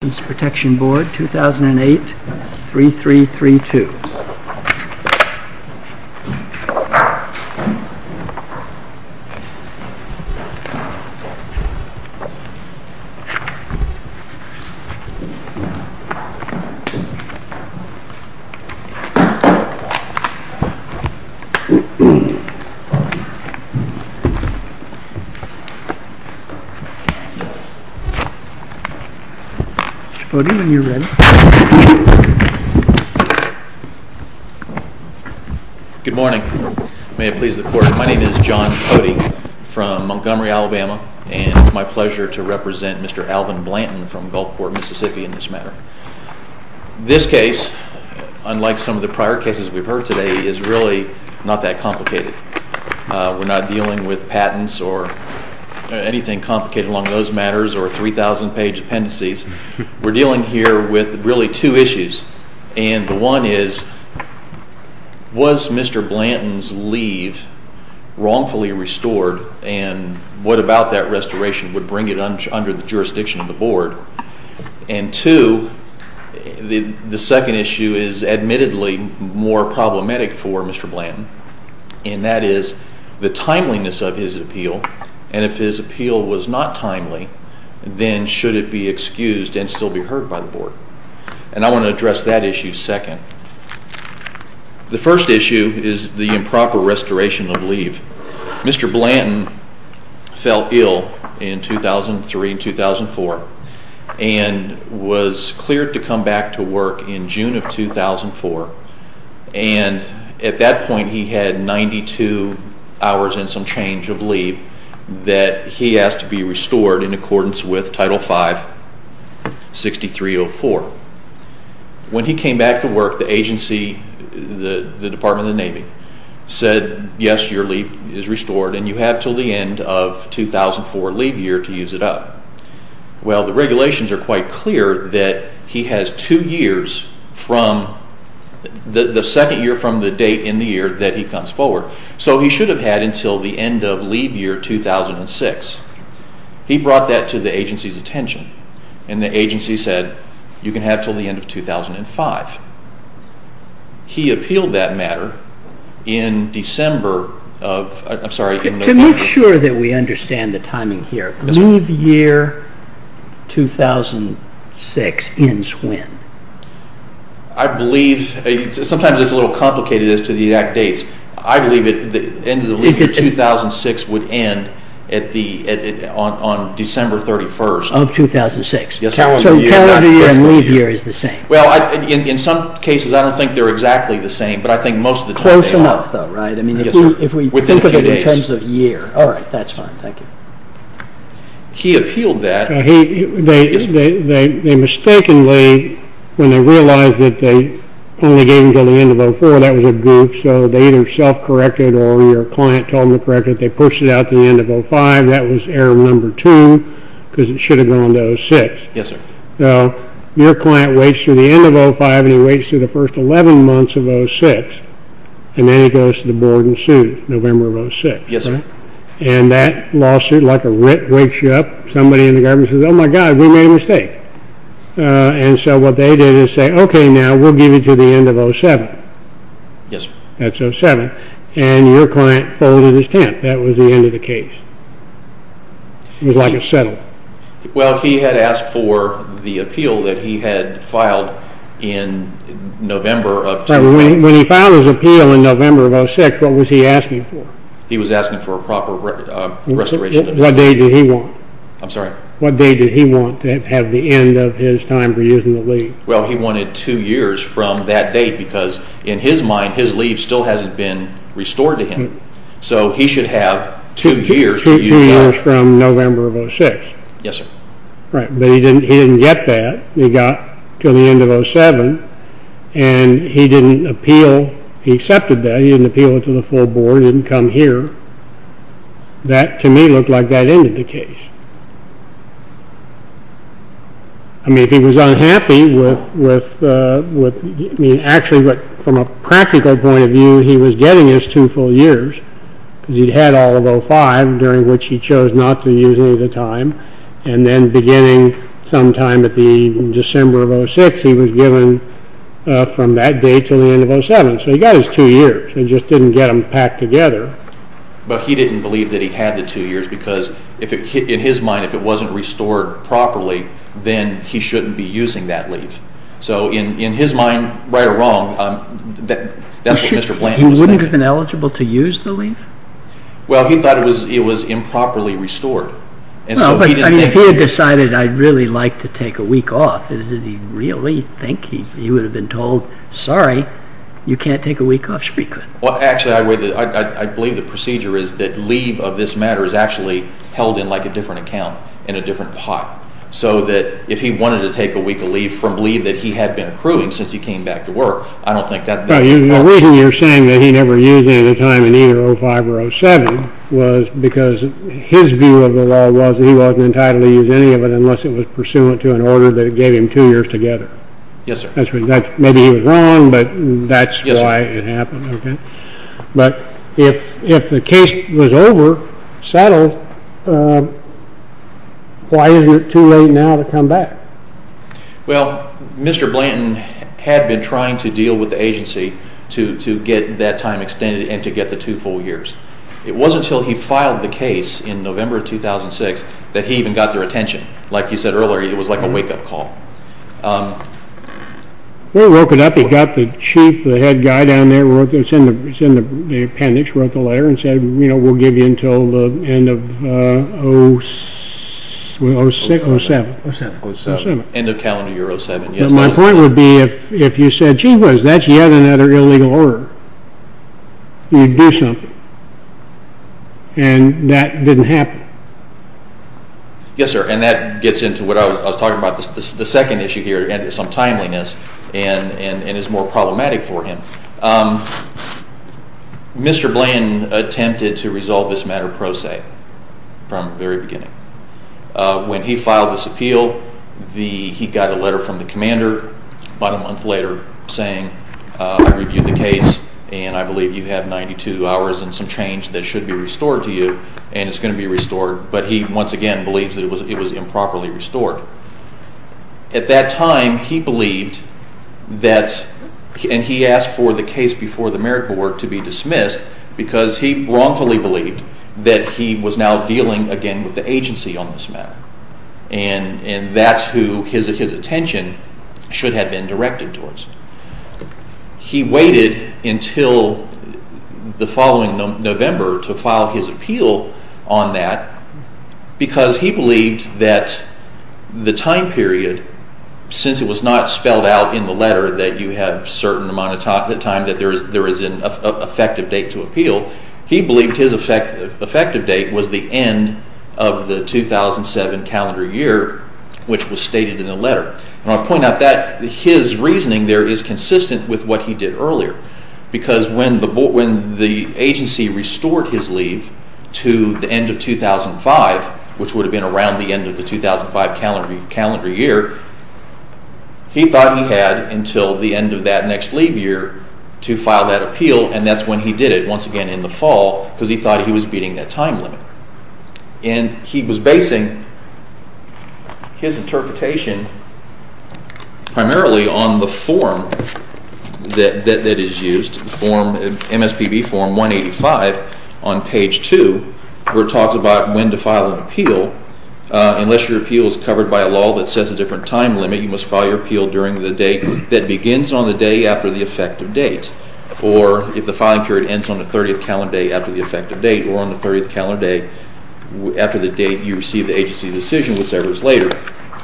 MSPB 2008-3332 Good morning. My name is John Cody from Montgomery, Alabama, and it's my pleasure to represent Mr. Alvin Blanton from Gulfport, Mississippi, in this matter. This case, unlike some of the prior cases we've heard today, is really not that complicated. We're not dealing with with really two issues, and the one is, was Mr. Blanton's leave wrongfully restored and what about that restoration would bring it under the jurisdiction of the board? And two, the second issue is admittedly more problematic for Mr. Blanton, and that is the timeliness of his appeal, and if his appeal was not timely, then should it be excused and still be heard by the board? And I want to address that issue second. The first issue is the improper restoration of leave. Mr. Blanton fell ill in 2003 and 2004 and was cleared to come back to work in June of 2004, and at that point he had 92 hours and some change of leave that he asked to be restored in accordance with Title V 6304. When he came back to work, the agency, the Department of the Navy, said, yes, your leave is restored and you have until the end of 2004 leave year to use it up. Well, the regulations are quite clear that he has two years from, the second year from the date in the year that he comes forward, so he should have had until the end of leave year 2006. He brought that to the agency's attention, and the agency said, you can have it until the end of 2005. He appealed that matter in December of, I'm sorry. Can we make sure that we understand the timing here? Leave year 2006 ends when? I believe, sometimes it's a little complicated as to the exact dates. I believe the end of leave year 2006 would end on December 31st. Of 2006. Yes. So calendar year and leave year is the same. Well, in some cases I don't think they're exactly the same, but I think most of the time they are. Close enough though, right? Within a few days. Alright, that's fine. Thank you. He appealed that. They mistakenly, when they realized that they only gave him until the end of 2004, that was a goof, so they either self-corrected or your client told them to correct it. They pushed it out to the end of 2005. That was error number two, because it should have gone to 2006. Yes, sir. Now, your client waits through the end of 2005, and he waits through the first 11 months of 2006, and then he goes to the board and sues November of 2006. Yes, sir. And that lawsuit, like a writ, wakes you up. Somebody in the government says, oh my God, we made a mistake. And so what they did is say, okay, now we'll give you to the end of 2007. Yes, sir. That's 2007. And your client folded his tent. That was the end of the case. It was like a settle. Well, he had asked for the appeal that he had filed in November of 2007. When he filed his appeal in November of 2006, what was he asking for? He was asking for a proper restoration. What date did he want? I'm sorry? What date did he want to have the end of his time for using the leave? Well, he wanted two years from that date, because in his mind, his leave still hasn't been restored to him. So he should have two years. Two years from November of 2006. Yes, sir. Right. But he didn't get that. He got to the end of 2007, and he didn't appeal. He accepted that. He didn't appeal it to the full board. It didn't come here. That, to me, looked like that ended the case. I mean, if he was unhappy with – I mean, actually, from a practical point of view, he was getting his two full years, because he had all of 2005, during which he chose not to use any of the time. And then beginning sometime at the December of 2006, he was given from that date to the end of 2007. So he got his two years. He just didn't get them packed together. But he didn't believe that he had the two years, because in his mind, if it wasn't restored properly, then he shouldn't be using that leave. So in his mind, right or wrong, that's what Mr. Blanton was thinking. He wouldn't have been eligible to use the leave? Well, he thought it was improperly restored. Well, but if he had decided, I'd really like to take a week off, did he really think he would have been told, sorry, you can't take a week off? Sure he could. Well, actually, I believe the procedure is that leave of this matter is actually held in like a different account, in a different pot. So that if he wanted to take a week of leave from leave that he had been accruing since he came back to work, I don't think that – Well, the reason you're saying that he never used any of the time in either 2005 or 2007 was because his view of the law was that he wasn't entitled to use any of it unless it was pursuant to an order that gave him two years together. Yes, sir. Maybe he was wrong, but that's why it happened. But if the case was over, settled, why is it too late now to come back? Well, Mr. Blanton had been trying to deal with the agency to get that time extended and to get the two full years. It wasn't until he filed the case in November of 2006 that he even got their attention. Like you said earlier, it was like a wake-up call. Well, he woke it up. He got the chief, the head guy down there, wrote the appendix, wrote the letter and said, you know, we'll give you until the end of 06, 07. End of calendar year 07. My point would be if you said, gee whiz, that's yet another illegal order, you'd do something. And that didn't happen. Yes, sir. And that gets into what I was talking about. The second issue here is some timeliness and is more problematic for him. Mr. Blanton attempted to resolve this matter pro se from the very beginning. When he filed this appeal, he got a letter from the commander about a month later saying, I reviewed the case and I believe you have 92 hours and some change that should be restored to you and it's going to be restored. But he once again believes that it was improperly restored. At that time, he believed that, and he asked for the case before the merit board to be dismissed because he wrongfully believed that he was now dealing again with the agency on this matter. And that's who his attention should have been directed towards. He waited until the following November to file his appeal on that because he believed that the time period, since it was not spelled out in the letter that you have a certain amount of time that there is an effective date to appeal, he believed his effective date was the end of the 2007 calendar year, which was stated in the letter. And I point out that his reasoning there is consistent with what he did earlier. Because when the agency restored his leave to the end of 2005, which would have been around the end of the 2005 calendar year, he thought he had until the end of that next leave year to file that appeal and that's when he did it, once again in the fall, because he thought he was beating that time limit. And he was basing his interpretation primarily on the form that is used, MSPB form 185 on page 2, where it talks about when to file an appeal. Unless your appeal is covered by a law that sets a different time limit, you must file your appeal during the date that begins on the day after the effective date. Or if the filing period ends on the 30th calendar day after the effective date or on the 30th calendar day after the date you receive the agency's decision, whichever is later.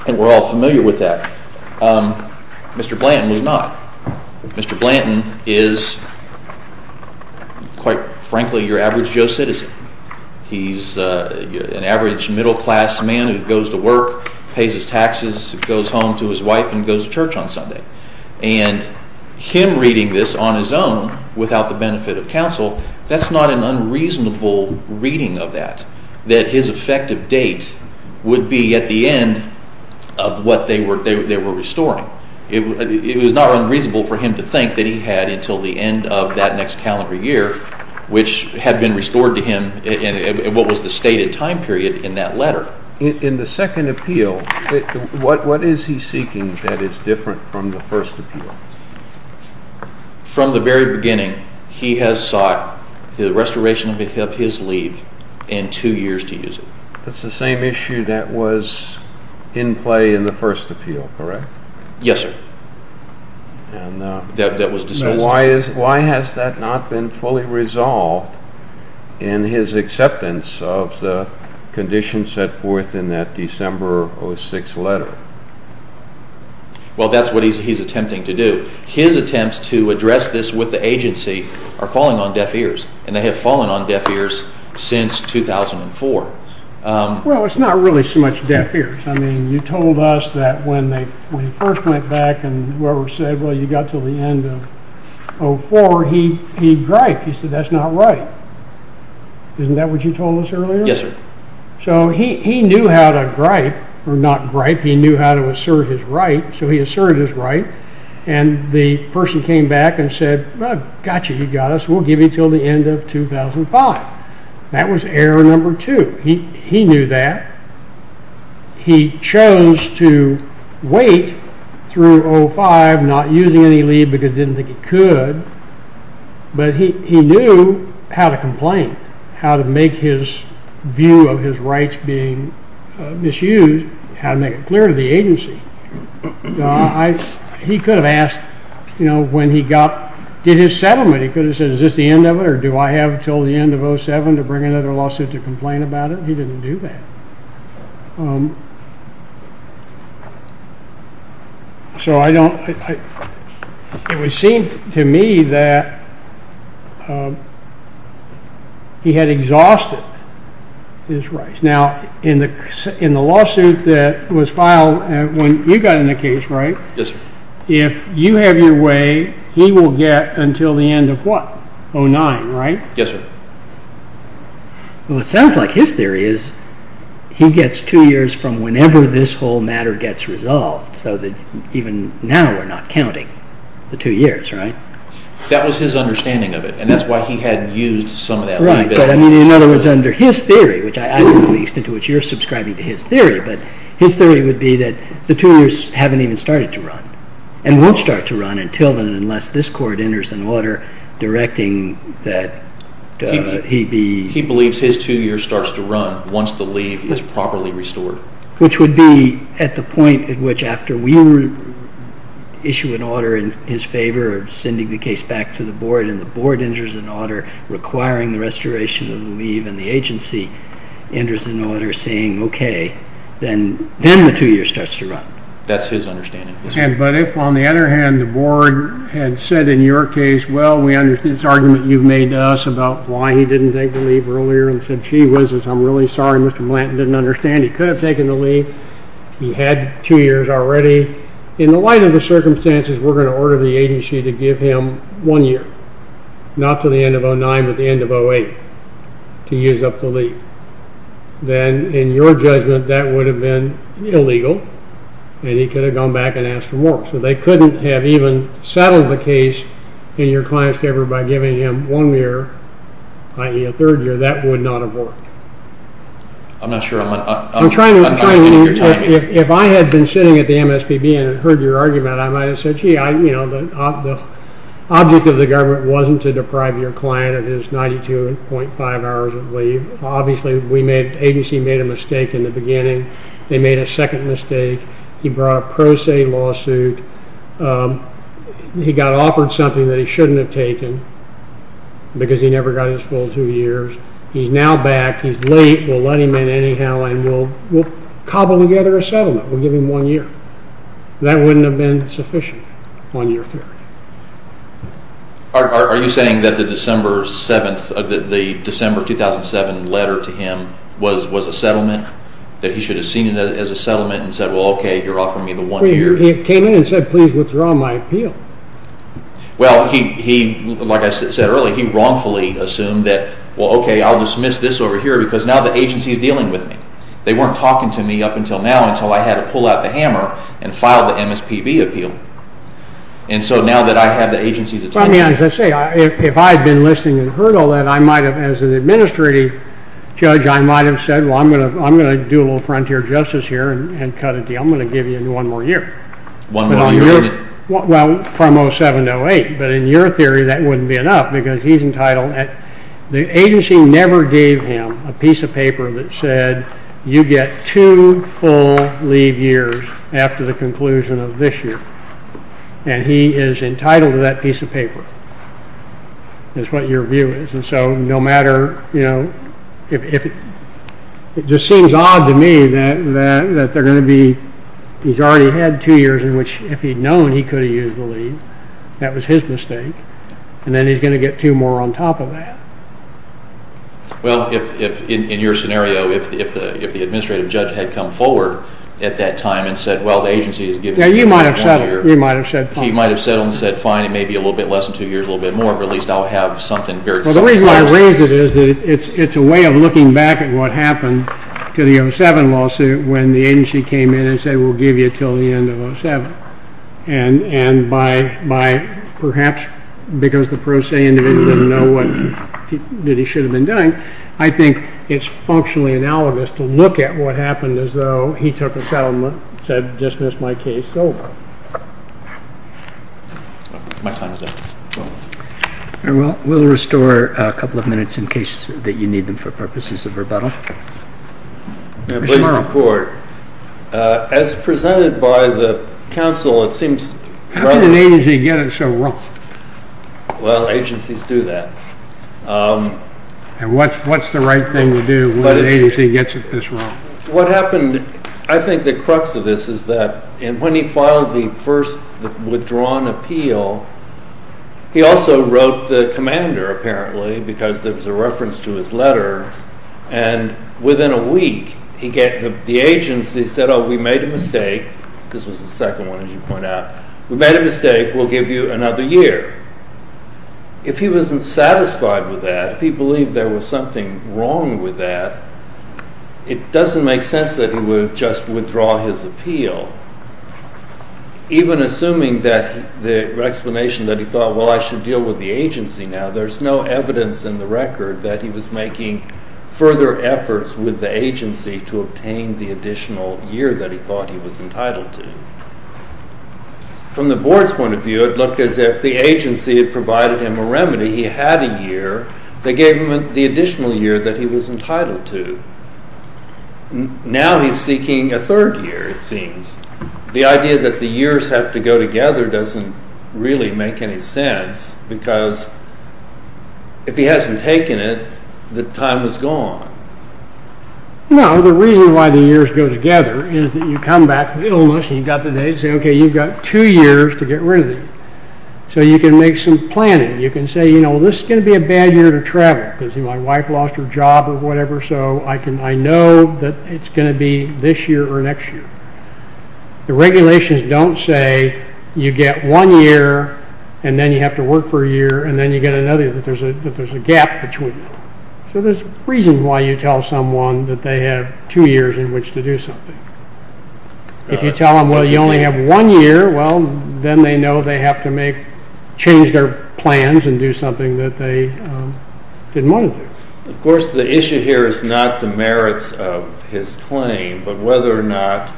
And we're all familiar with that. Mr. Blanton was not. Mr. Blanton is, quite frankly, your average Joe citizen. He's an average middle class man who goes to work, pays his taxes, goes home to his wife and goes to church on Sunday. And him reading this on his own without the benefit of counsel, that's not an unreasonable reading of that, that his effective date would be at the end of what they were restoring. It was not unreasonable for him to think that he had until the end of that next calendar year, which had been restored to him in what was the stated time period in that letter. But in the second appeal, what is he seeking that is different from the first appeal? From the very beginning, he has sought the restoration of his leave and two years to use it. That's the same issue that was in play in the first appeal, correct? Yes, sir. That was dismissed. Why has that not been fully resolved in his acceptance of the conditions set forth in that December 06 letter? Well, that's what he's attempting to do. His attempts to address this with the agency are falling on deaf ears, and they have fallen on deaf ears since 2004. Well, it's not really so much deaf ears. I mean, you told us that when he first went back and whoever said, well, you got until the end of 04, he griped. He said, that's not right. Isn't that what you told us earlier? Yes, sir. So he knew how to gripe, or not gripe. He knew how to assert his right, so he asserted his right. And the person came back and said, gotcha, you got us. We'll give you until the end of 2005. That was error number two. He knew that. He chose to wait through 05, not using any leave because he didn't think he could. But he knew how to complain, how to make his view of his rights being misused, how to make it clear to the agency. He could have asked, you know, when he got, did his settlement. He could have said, is this the end of it, or do I have until the end of 07 to bring another lawsuit to complain about it? He didn't do that. So I don't, it would seem to me that he had exhausted his rights. Now, in the lawsuit that was filed when you got in the case, right? Yes, sir. If you have your way, he will get until the end of what? 09, right? Yes, sir. Well, it sounds like his theory is he gets two years from whenever this whole matter gets resolved, so that even now we're not counting the two years, right? That was his understanding of it, and that's why he had used some of that leave. Right, but I mean, in other words, under his theory, which I don't know the extent to which you're subscribing to his theory, but his theory would be that the two years haven't even started to run and won't start to run until and unless this court enters an order directing that he be. He believes his two years starts to run once the leave is properly restored. Which would be at the point at which after we issue an order in his favor of sending the case back to the board and the board enters an order requiring the restoration of the leave and the agency enters an order saying, okay, then the two years starts to run. That's his understanding. But if, on the other hand, the board had said in your case, well, we understand this argument you've made to us about why he didn't take the leave earlier and said, gee whizzes, I'm really sorry Mr. Blanton didn't understand. He could have taken the leave. He had two years already. In the light of the circumstances, we're going to order the agency to give him one year, not to the end of 09 but the end of 08 to use up the leave. Then in your judgment, that would have been illegal and he could have gone back and asked for more. So they couldn't have even settled the case in your client's favor by giving him one year, i.e. a third year. That would not have worked. I'm not sure I'm understanding your timing. If I had been sitting at the MSPB and heard your argument, I might have said, gee, the object of the government wasn't to deprive your client of his 92.5 hours of leave. Obviously, the agency made a mistake in the beginning. They made a second mistake. He brought a pro se lawsuit. He got offered something that he shouldn't have taken because he never got his full two years. He's now back. He's late. We'll let him in anyhow and we'll cobble together a settlement. We'll give him one year. That wouldn't have been sufficient, one year. Are you saying that the December 2007 letter to him was a settlement, that he should have seen it as a settlement and said, well, okay, you're offering me the one year? He came in and said, please withdraw my appeal. Well, like I said earlier, he wrongfully assumed that, well, okay, I'll dismiss this over here because now the agency is dealing with me. They weren't talking to me up until now until I had to pull out the hammer and file the MSPB appeal. And so now that I have the agency's attention. I mean, as I say, if I had been listening and heard all that, I might have, as an administrative judge, I might have said, well, I'm going to do a little frontier justice here and cut a deal. I'm going to give you one more year. One more year. Well, from 07 to 08. But in your theory, that wouldn't be enough because he's entitled. The agency never gave him a piece of paper that said you get two full leave years after the conclusion of this year. And he is entitled to that piece of paper is what your view is. And so no matter, you know, if it just seems odd to me that they're going to be, he's already had two years in which if he'd known he could have used the leave, that was his mistake. And then he's going to get two more on top of that. Well, if in your scenario, if the administrative judge had come forward at that time and said, well, the agency is giving you one more year. Yeah, you might have settled. You might have said fine. He might have settled and said fine. It may be a little bit less than two years, a little bit more, but at least I'll have something. Well, the reason I raise it is that it's a way of looking back at what happened to the 07 lawsuit when the agency came in and said we'll give you until the end of 07. And by perhaps because the pro se individual didn't know what he should have been doing, I think it's functionally analogous to look at what happened as though he took a settlement, said dismiss my case, over. We'll restore a couple of minutes in case that you need them for purposes of rebuttal. Please report. As presented by the counsel, it seems rather… How did an agency get it so wrong? Well, agencies do that. And what's the right thing to do when an agency gets it this wrong? What happened, I think the crux of this is that when he filed the first withdrawn appeal, he also wrote the commander apparently because there was a reference to his letter. And within a week, the agency said, oh, we made a mistake. This was the second one, as you point out. We made a mistake. We'll give you another year. If he wasn't satisfied with that, if he believed there was something wrong with that, it doesn't make sense that he would just withdraw his appeal. Even assuming that the explanation that he thought, well, I should deal with the agency now, there's no evidence in the record that he was making further efforts with the agency to obtain the additional year that he thought he was entitled to. From the board's point of view, it looked as if the agency had provided him a remedy. He had a year. They gave him the additional year that he was entitled to. Now he's seeking a third year, it seems. The idea that the years have to go together doesn't really make any sense because if he hasn't taken it, the time is gone. No, the reason why the years go together is that you come back with illness and you've got the day to say, okay, you've got two years to get rid of it. So you can make some planning. You can say, you know, this is going to be a bad year to travel because my wife lost her job or whatever, so I know that it's going to be this year or next year. The regulations don't say you get one year and then you have to work for a year and then you get another year, that there's a gap between them. So there's a reason why you tell someone that they have two years in which to do something. If you tell them, well, you only have one year, well, then they know they have to make, change their plans and do something that they didn't want to do. Of course, the issue here is not the merits of his claim, but whether or not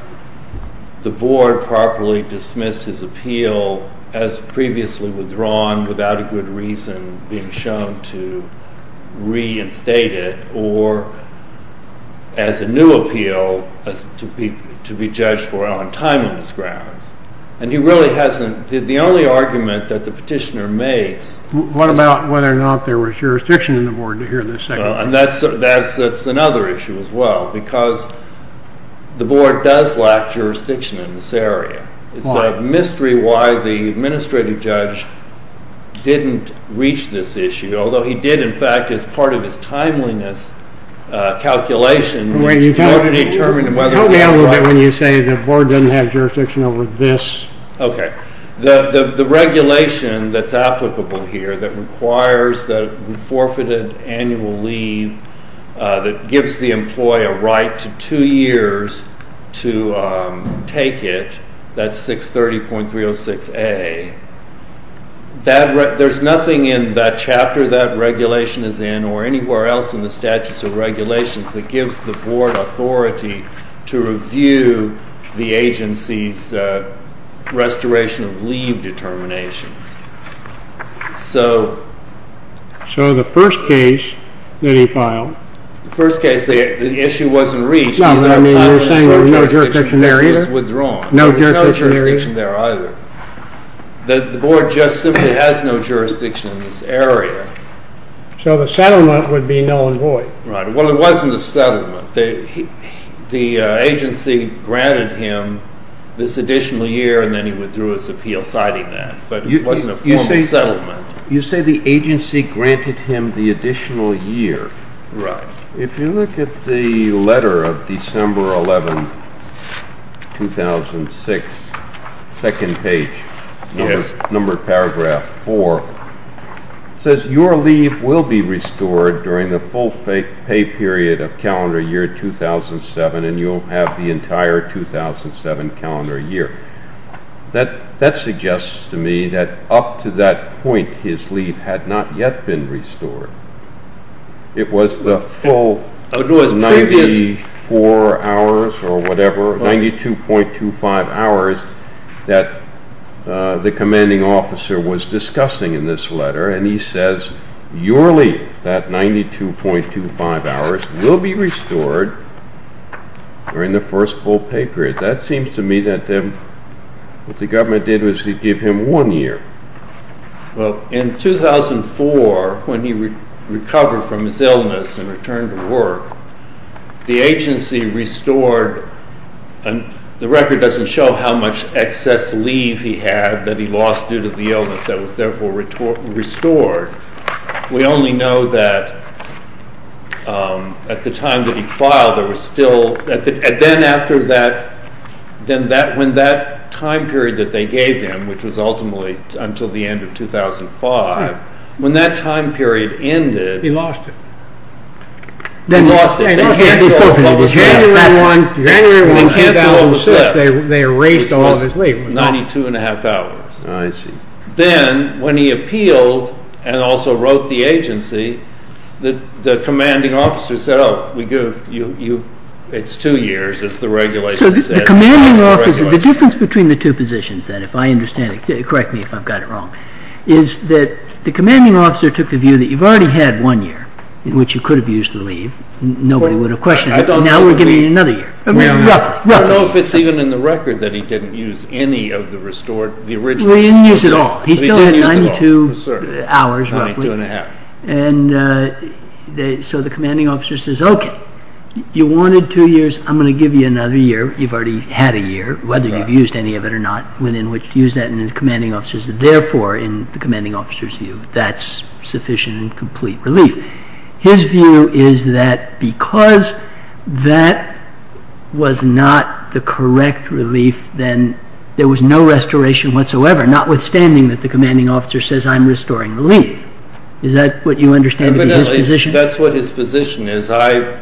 the board properly dismissed his appeal as previously withdrawn without a good reason being shown to reinstate it or as a new appeal to be judged for on timeliness grounds. And he really hasn't. The only argument that the petitioner makes... And that's another issue as well, because the board does lack jurisdiction in this area. It's a mystery why the administrative judge didn't reach this issue, although he did, in fact, as part of his timeliness calculation... Tell me a little bit when you say the board doesn't have jurisdiction over this. Okay. The regulation that's applicable here that requires the forfeited annual leave that gives the employee a right to two years to take it, that's 630.306A, there's nothing in that chapter that regulation is in or anywhere else in the statutes or regulations that gives the board authority to review the agency's restoration of leave determinations. So... So the first case that he filed... The first case, the issue wasn't reached. No, I mean, you're saying there was no jurisdiction there either? There was no jurisdiction there either. The board just simply has no jurisdiction in this area. So the settlement would be null and void. Right. Well, it wasn't a settlement. The agency granted him this additional year, and then he withdrew his appeal citing that, but it wasn't a formal settlement. You say the agency granted him the additional year. Right. If you look at the letter of December 11, 2006, second page, number paragraph 4, it says your leave will be restored during the full pay period of calendar year 2007, and you'll have the entire 2007 calendar year. That suggests to me that up to that point his leave had not yet been restored. It was the full 94 hours or whatever, 92.25 hours, that the commanding officer was discussing in this letter, and he says your leave, that 92.25 hours, will be restored during the first full pay period. That seems to me that what the government did was give him one year. Well, in 2004, when he recovered from his illness and returned to work, the agency restored, and the record doesn't show how much excess leave he had that he lost due to the illness that was therefore restored. We only know that at the time that he filed, there was still, and then after that, when that time period that they gave him, which was ultimately until the end of 2005, when that time period ended. He lost it. He lost it. They canceled all the staff. They canceled all the staff. They erased all his leave. He lost 92.5 hours. Then, when he appealed and also wrote the agency, the commanding officer said, oh, it's two years, as the regulation says. So the commanding officer, the difference between the two positions then, if I understand it, correct me if I've got it wrong, is that the commanding officer took the view that you've already had one year, in which you could have used the leave. Nobody would have questioned it. Now we're giving you another year. I don't know if it's even in the record that he didn't use any of the restored, the original. He didn't use it all. He still had 92 hours, roughly. 92.5. So the commanding officer says, okay, you wanted two years. I'm going to give you another year. You've already had a year, whether you've used any of it or not, within which to use that. And the commanding officer said, therefore, in the commanding officer's view, that's sufficient and complete relief. His view is that because that was not the correct relief, then there was no restoration whatsoever, notwithstanding that the commanding officer says I'm restoring the leave. Is that what you understand in his position? Evidently, that's what his position is. I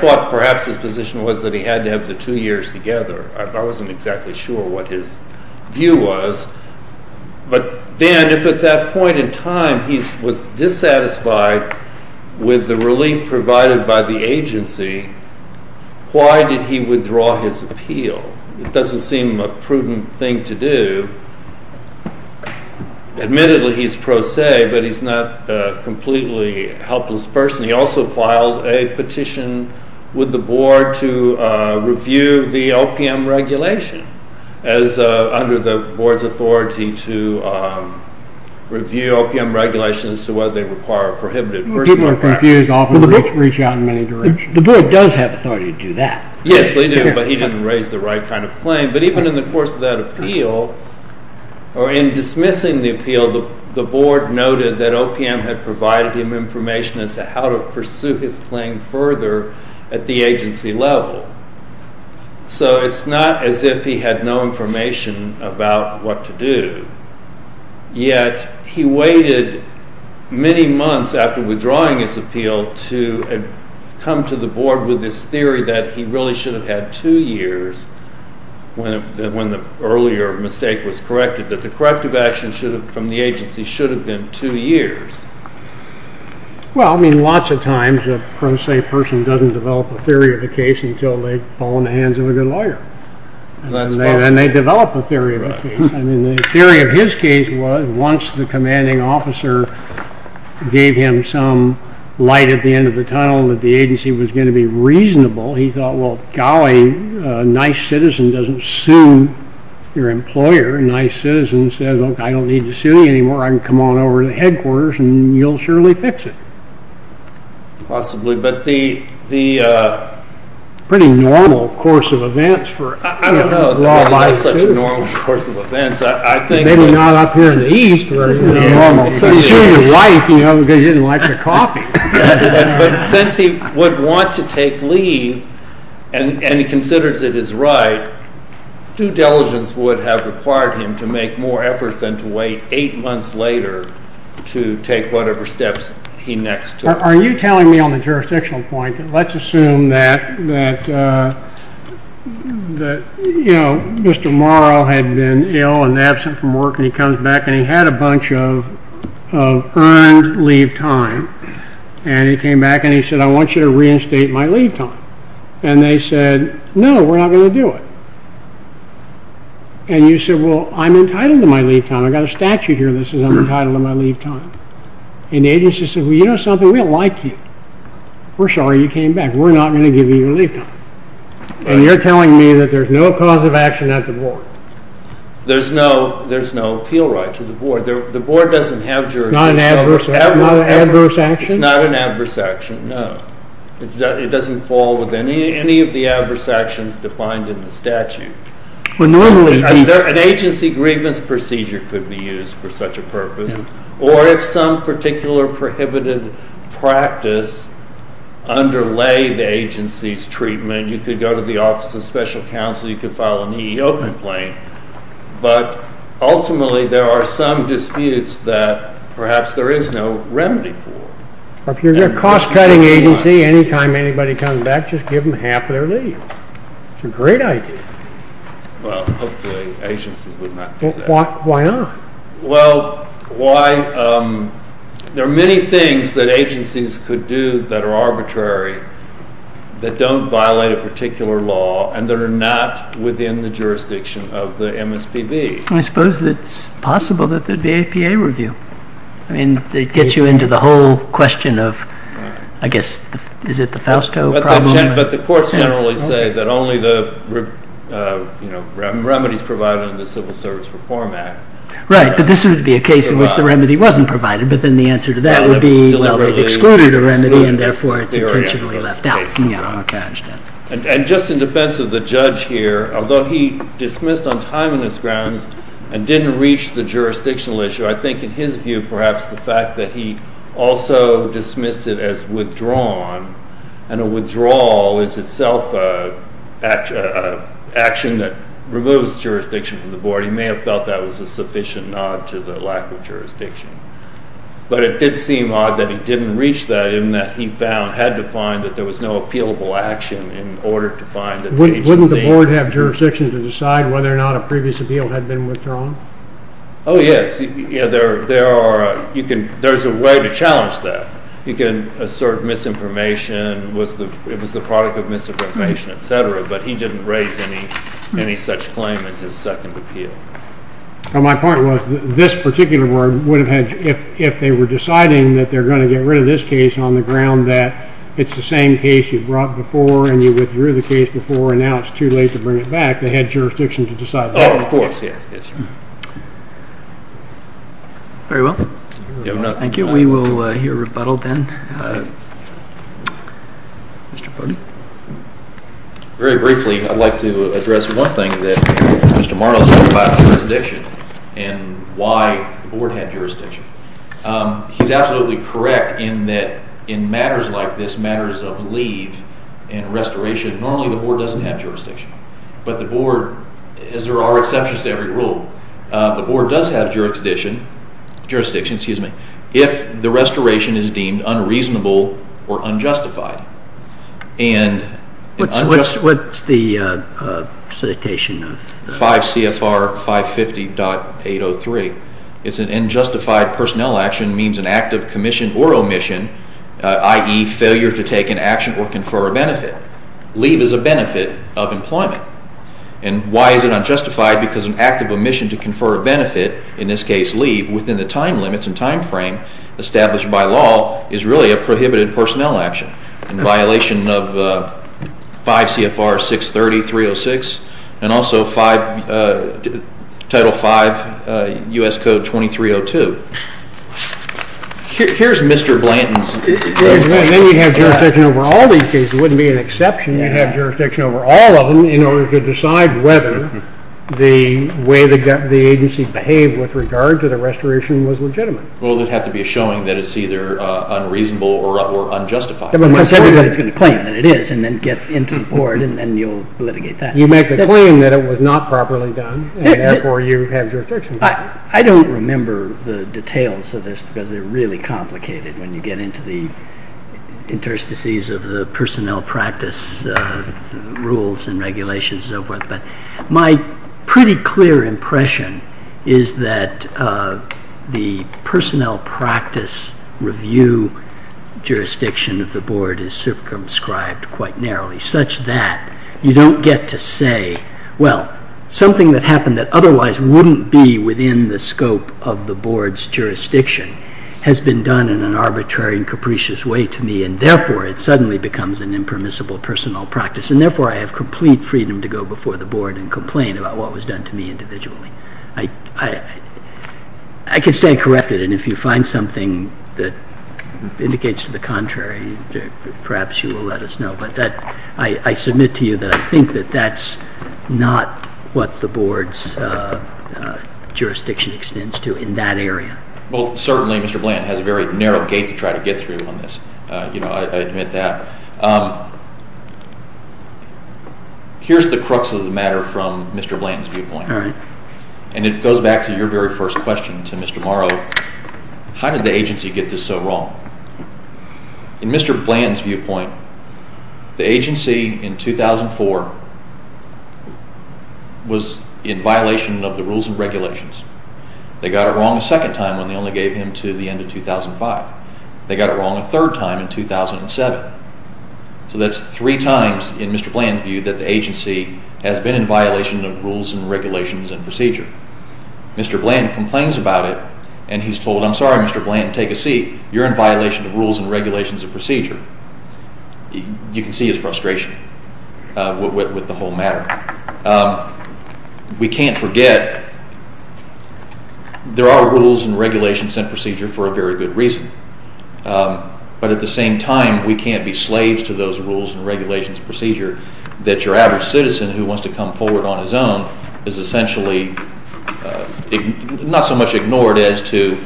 thought perhaps his position was that he had to have the two years together. I wasn't exactly sure what his view was. But then if at that point in time he was dissatisfied with the relief provided by the agency, why did he withdraw his appeal? It doesn't seem a prudent thing to do. Admittedly, he's pro se, but he's not a completely helpless person. He also filed a petition with the board to review the OPM regulation under the board's authority to review OPM regulations as to whether they require a prohibited personal practice. People are confused, often reach out in many directions. The board does have authority to do that. Yes, they do, but he didn't raise the right kind of claim. But even in the course of that appeal, or in dismissing the appeal, the board noted that OPM had provided him information as to how to pursue his claim further at the agency level. So it's not as if he had no information about what to do. Yet he waited many months after withdrawing his appeal to come to the board with this theory that he really should have had two years when the earlier mistake was corrected, that the corrective action from the agency should have been two years. Well, I mean, lots of times a pro se person doesn't develop a theory of a case until they've fallen in the hands of a good lawyer. And they develop a theory of a case. I mean, the theory of his case was once the commanding officer gave him some light at the end of the tunnel that the agency was going to be reasonable, he thought, well, golly, a nice citizen doesn't sue their employer. A nice citizen says, OK, I don't need to sue you anymore. I can come on over to headquarters, and you'll surely fix it. Possibly. But the pretty normal course of events for a lawyer, too. I don't know. There's not such a normal course of events. Maybe not up here in the East where it's normal. So he sued his wife because he didn't like the coffee. But since he would want to take leave, and he considers it his right, due diligence would have required him to make more effort than to wait eight months later to take whatever steps he next took. Are you telling me on the jurisdictional point, let's assume that Mr. Morrow had been ill and absent from work, and he comes back and he had a bunch of earned leave time, and he came back and he said, I want you to reinstate my leave time. And they said, no, we're not going to do it. And you said, well, I'm entitled to my leave time. I've got a statute here that says I'm entitled to my leave time. And the agency said, well, you know something, we don't like you. We're sorry you came back. We're not going to give you your leave time. And you're telling me that there's no cause of action at the board. There's no appeal right to the board. The board doesn't have jurisdiction. Not an adverse action? It's not an adverse action, no. It doesn't fall within any of the adverse actions defined in the statute. An agency grievance procedure could be used for such a purpose. Or if some particular prohibited practice underlay the agency's treatment, you could go to the Office of Special Counsel. You could file an EEO complaint. But ultimately, there are some disputes that perhaps there is no remedy for. If you're a cost-cutting agency, any time anybody comes back, just give them half their leave. It's a great idea. Well, hopefully agencies would not do that. Why not? Well, there are many things that agencies could do that are arbitrary, that don't violate a particular law, and that are not within the jurisdiction of the MSPB. I suppose it's possible that there'd be APA review. I mean, it gets you into the whole question of, I guess, is it the Fausto problem? But the courts generally say that only the remedies provided in the Civil Service Reform Act. Right, but this would be a case in which the remedy wasn't provided, but then the answer to that would be, well, they've excluded a remedy, and therefore it's intentionally left out. And just in defense of the judge here, although he dismissed on timeliness grounds and didn't reach the jurisdictional issue, I think in his view, perhaps the fact that he also dismissed it as withdrawn, and a withdrawal is itself an action that removes jurisdiction from the board, he may have felt that was a sufficient nod to the lack of jurisdiction. But it did seem odd that he didn't reach that, and that he found, had to find, that there was no appealable action in order to find that the agency Wouldn't the board have jurisdiction to decide whether or not a previous appeal had been withdrawn? Oh, yes. There's a way to challenge that. You can assert misinformation, it was the product of misinformation, et cetera, but he didn't raise any such claim in his second appeal. My point was, this particular board would have had, if they were deciding that they're going to get rid of this case on the ground that it's the same case you brought before, and you withdrew the case before, and now it's too late to bring it back, they had jurisdiction to decide that. Well, of course, yes. Very well. Thank you. We will hear a rebuttal then. Mr. Borden? Very briefly, I'd like to address one thing that Mr. Marlowe said about jurisdiction, and why the board had jurisdiction. He's absolutely correct in that in matters like this, matters of leave and restoration, normally the board doesn't have jurisdiction. But the board, as there are exceptions to every rule, the board does have jurisdiction if the restoration is deemed unreasonable or unjustified. What's the citation? 5 CFR 550.803. It's an unjustified personnel action, means an act of commission or omission, i.e., failure to take an action or confer a benefit. Leave is a benefit of employment. And why is it unjustified? Because an act of omission to confer a benefit, in this case leave, within the time limits and time frame established by law is really a prohibited personnel action in violation of 5 CFR 630.306 and also Title 5 U.S. Code 2302. Here's Mr. Blanton's... Then you have jurisdiction over all these cases. It wouldn't be an exception. You'd have jurisdiction over all of them in order to decide whether the way the agency behaved with regard to the restoration was legitimate. Well, there'd have to be a showing that it's either unreasonable or unjustified. Everybody's going to claim that it is, and then get into the board, and then you'll litigate that. You make the claim that it was not properly done, and therefore you have jurisdiction. I don't remember the details of this, because they're really complicated when you get into the interstices of the personnel practice rules and regulations and so forth. But my pretty clear impression is that the personnel practice review jurisdiction of the board is circumscribed quite narrowly such that you don't get to say, well, something that happened that otherwise wouldn't be within the scope of the board's jurisdiction has been done in an arbitrary and capricious way to me, and therefore it suddenly becomes an impermissible personnel practice, and therefore I have complete freedom to go before the board and complain about what was done to me individually. I can stay corrected, and if you find something that indicates to the contrary, perhaps you will let us know. But I submit to you that I think that that's not what the board's jurisdiction extends to in that area. Well, certainly Mr. Bland has a very narrow gate to try to get through on this. I admit that. Here's the crux of the matter from Mr. Bland's viewpoint, and it goes back to your very first question to Mr. Morrow. How did the agency get this so wrong? In Mr. Bland's viewpoint, the agency in 2004 was in violation of the rules and regulations. They got it wrong a second time when they only gave him to the end of 2005. They got it wrong a third time in 2007. So that's three times, in Mr. Bland's view, that the agency has been in violation of rules and regulations and procedure. Mr. Bland complains about it, and he's told, I'm sorry, Mr. Bland, take a seat. You're in violation of rules and regulations and procedure. You can see his frustration with the whole matter. We can't forget there are rules and regulations and procedure for a very good reason. But at the same time, we can't be slaves to those rules and regulations and procedure that your average citizen who wants to come forward on his own is essentially not so much ignored as to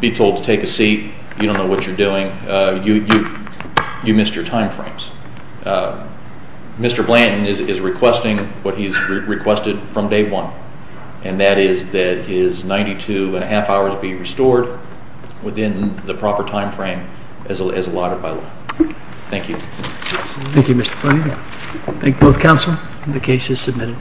be told to take a seat. You don't know what you're doing. You missed your time frames. Mr. Bland is requesting what he's requested from day one, and that is that his 92 1⁄2 hours be restored within the proper time frame as allotted by law. Thank you. Thank you, Mr. Bland. Thank both counsel. The case is submitted.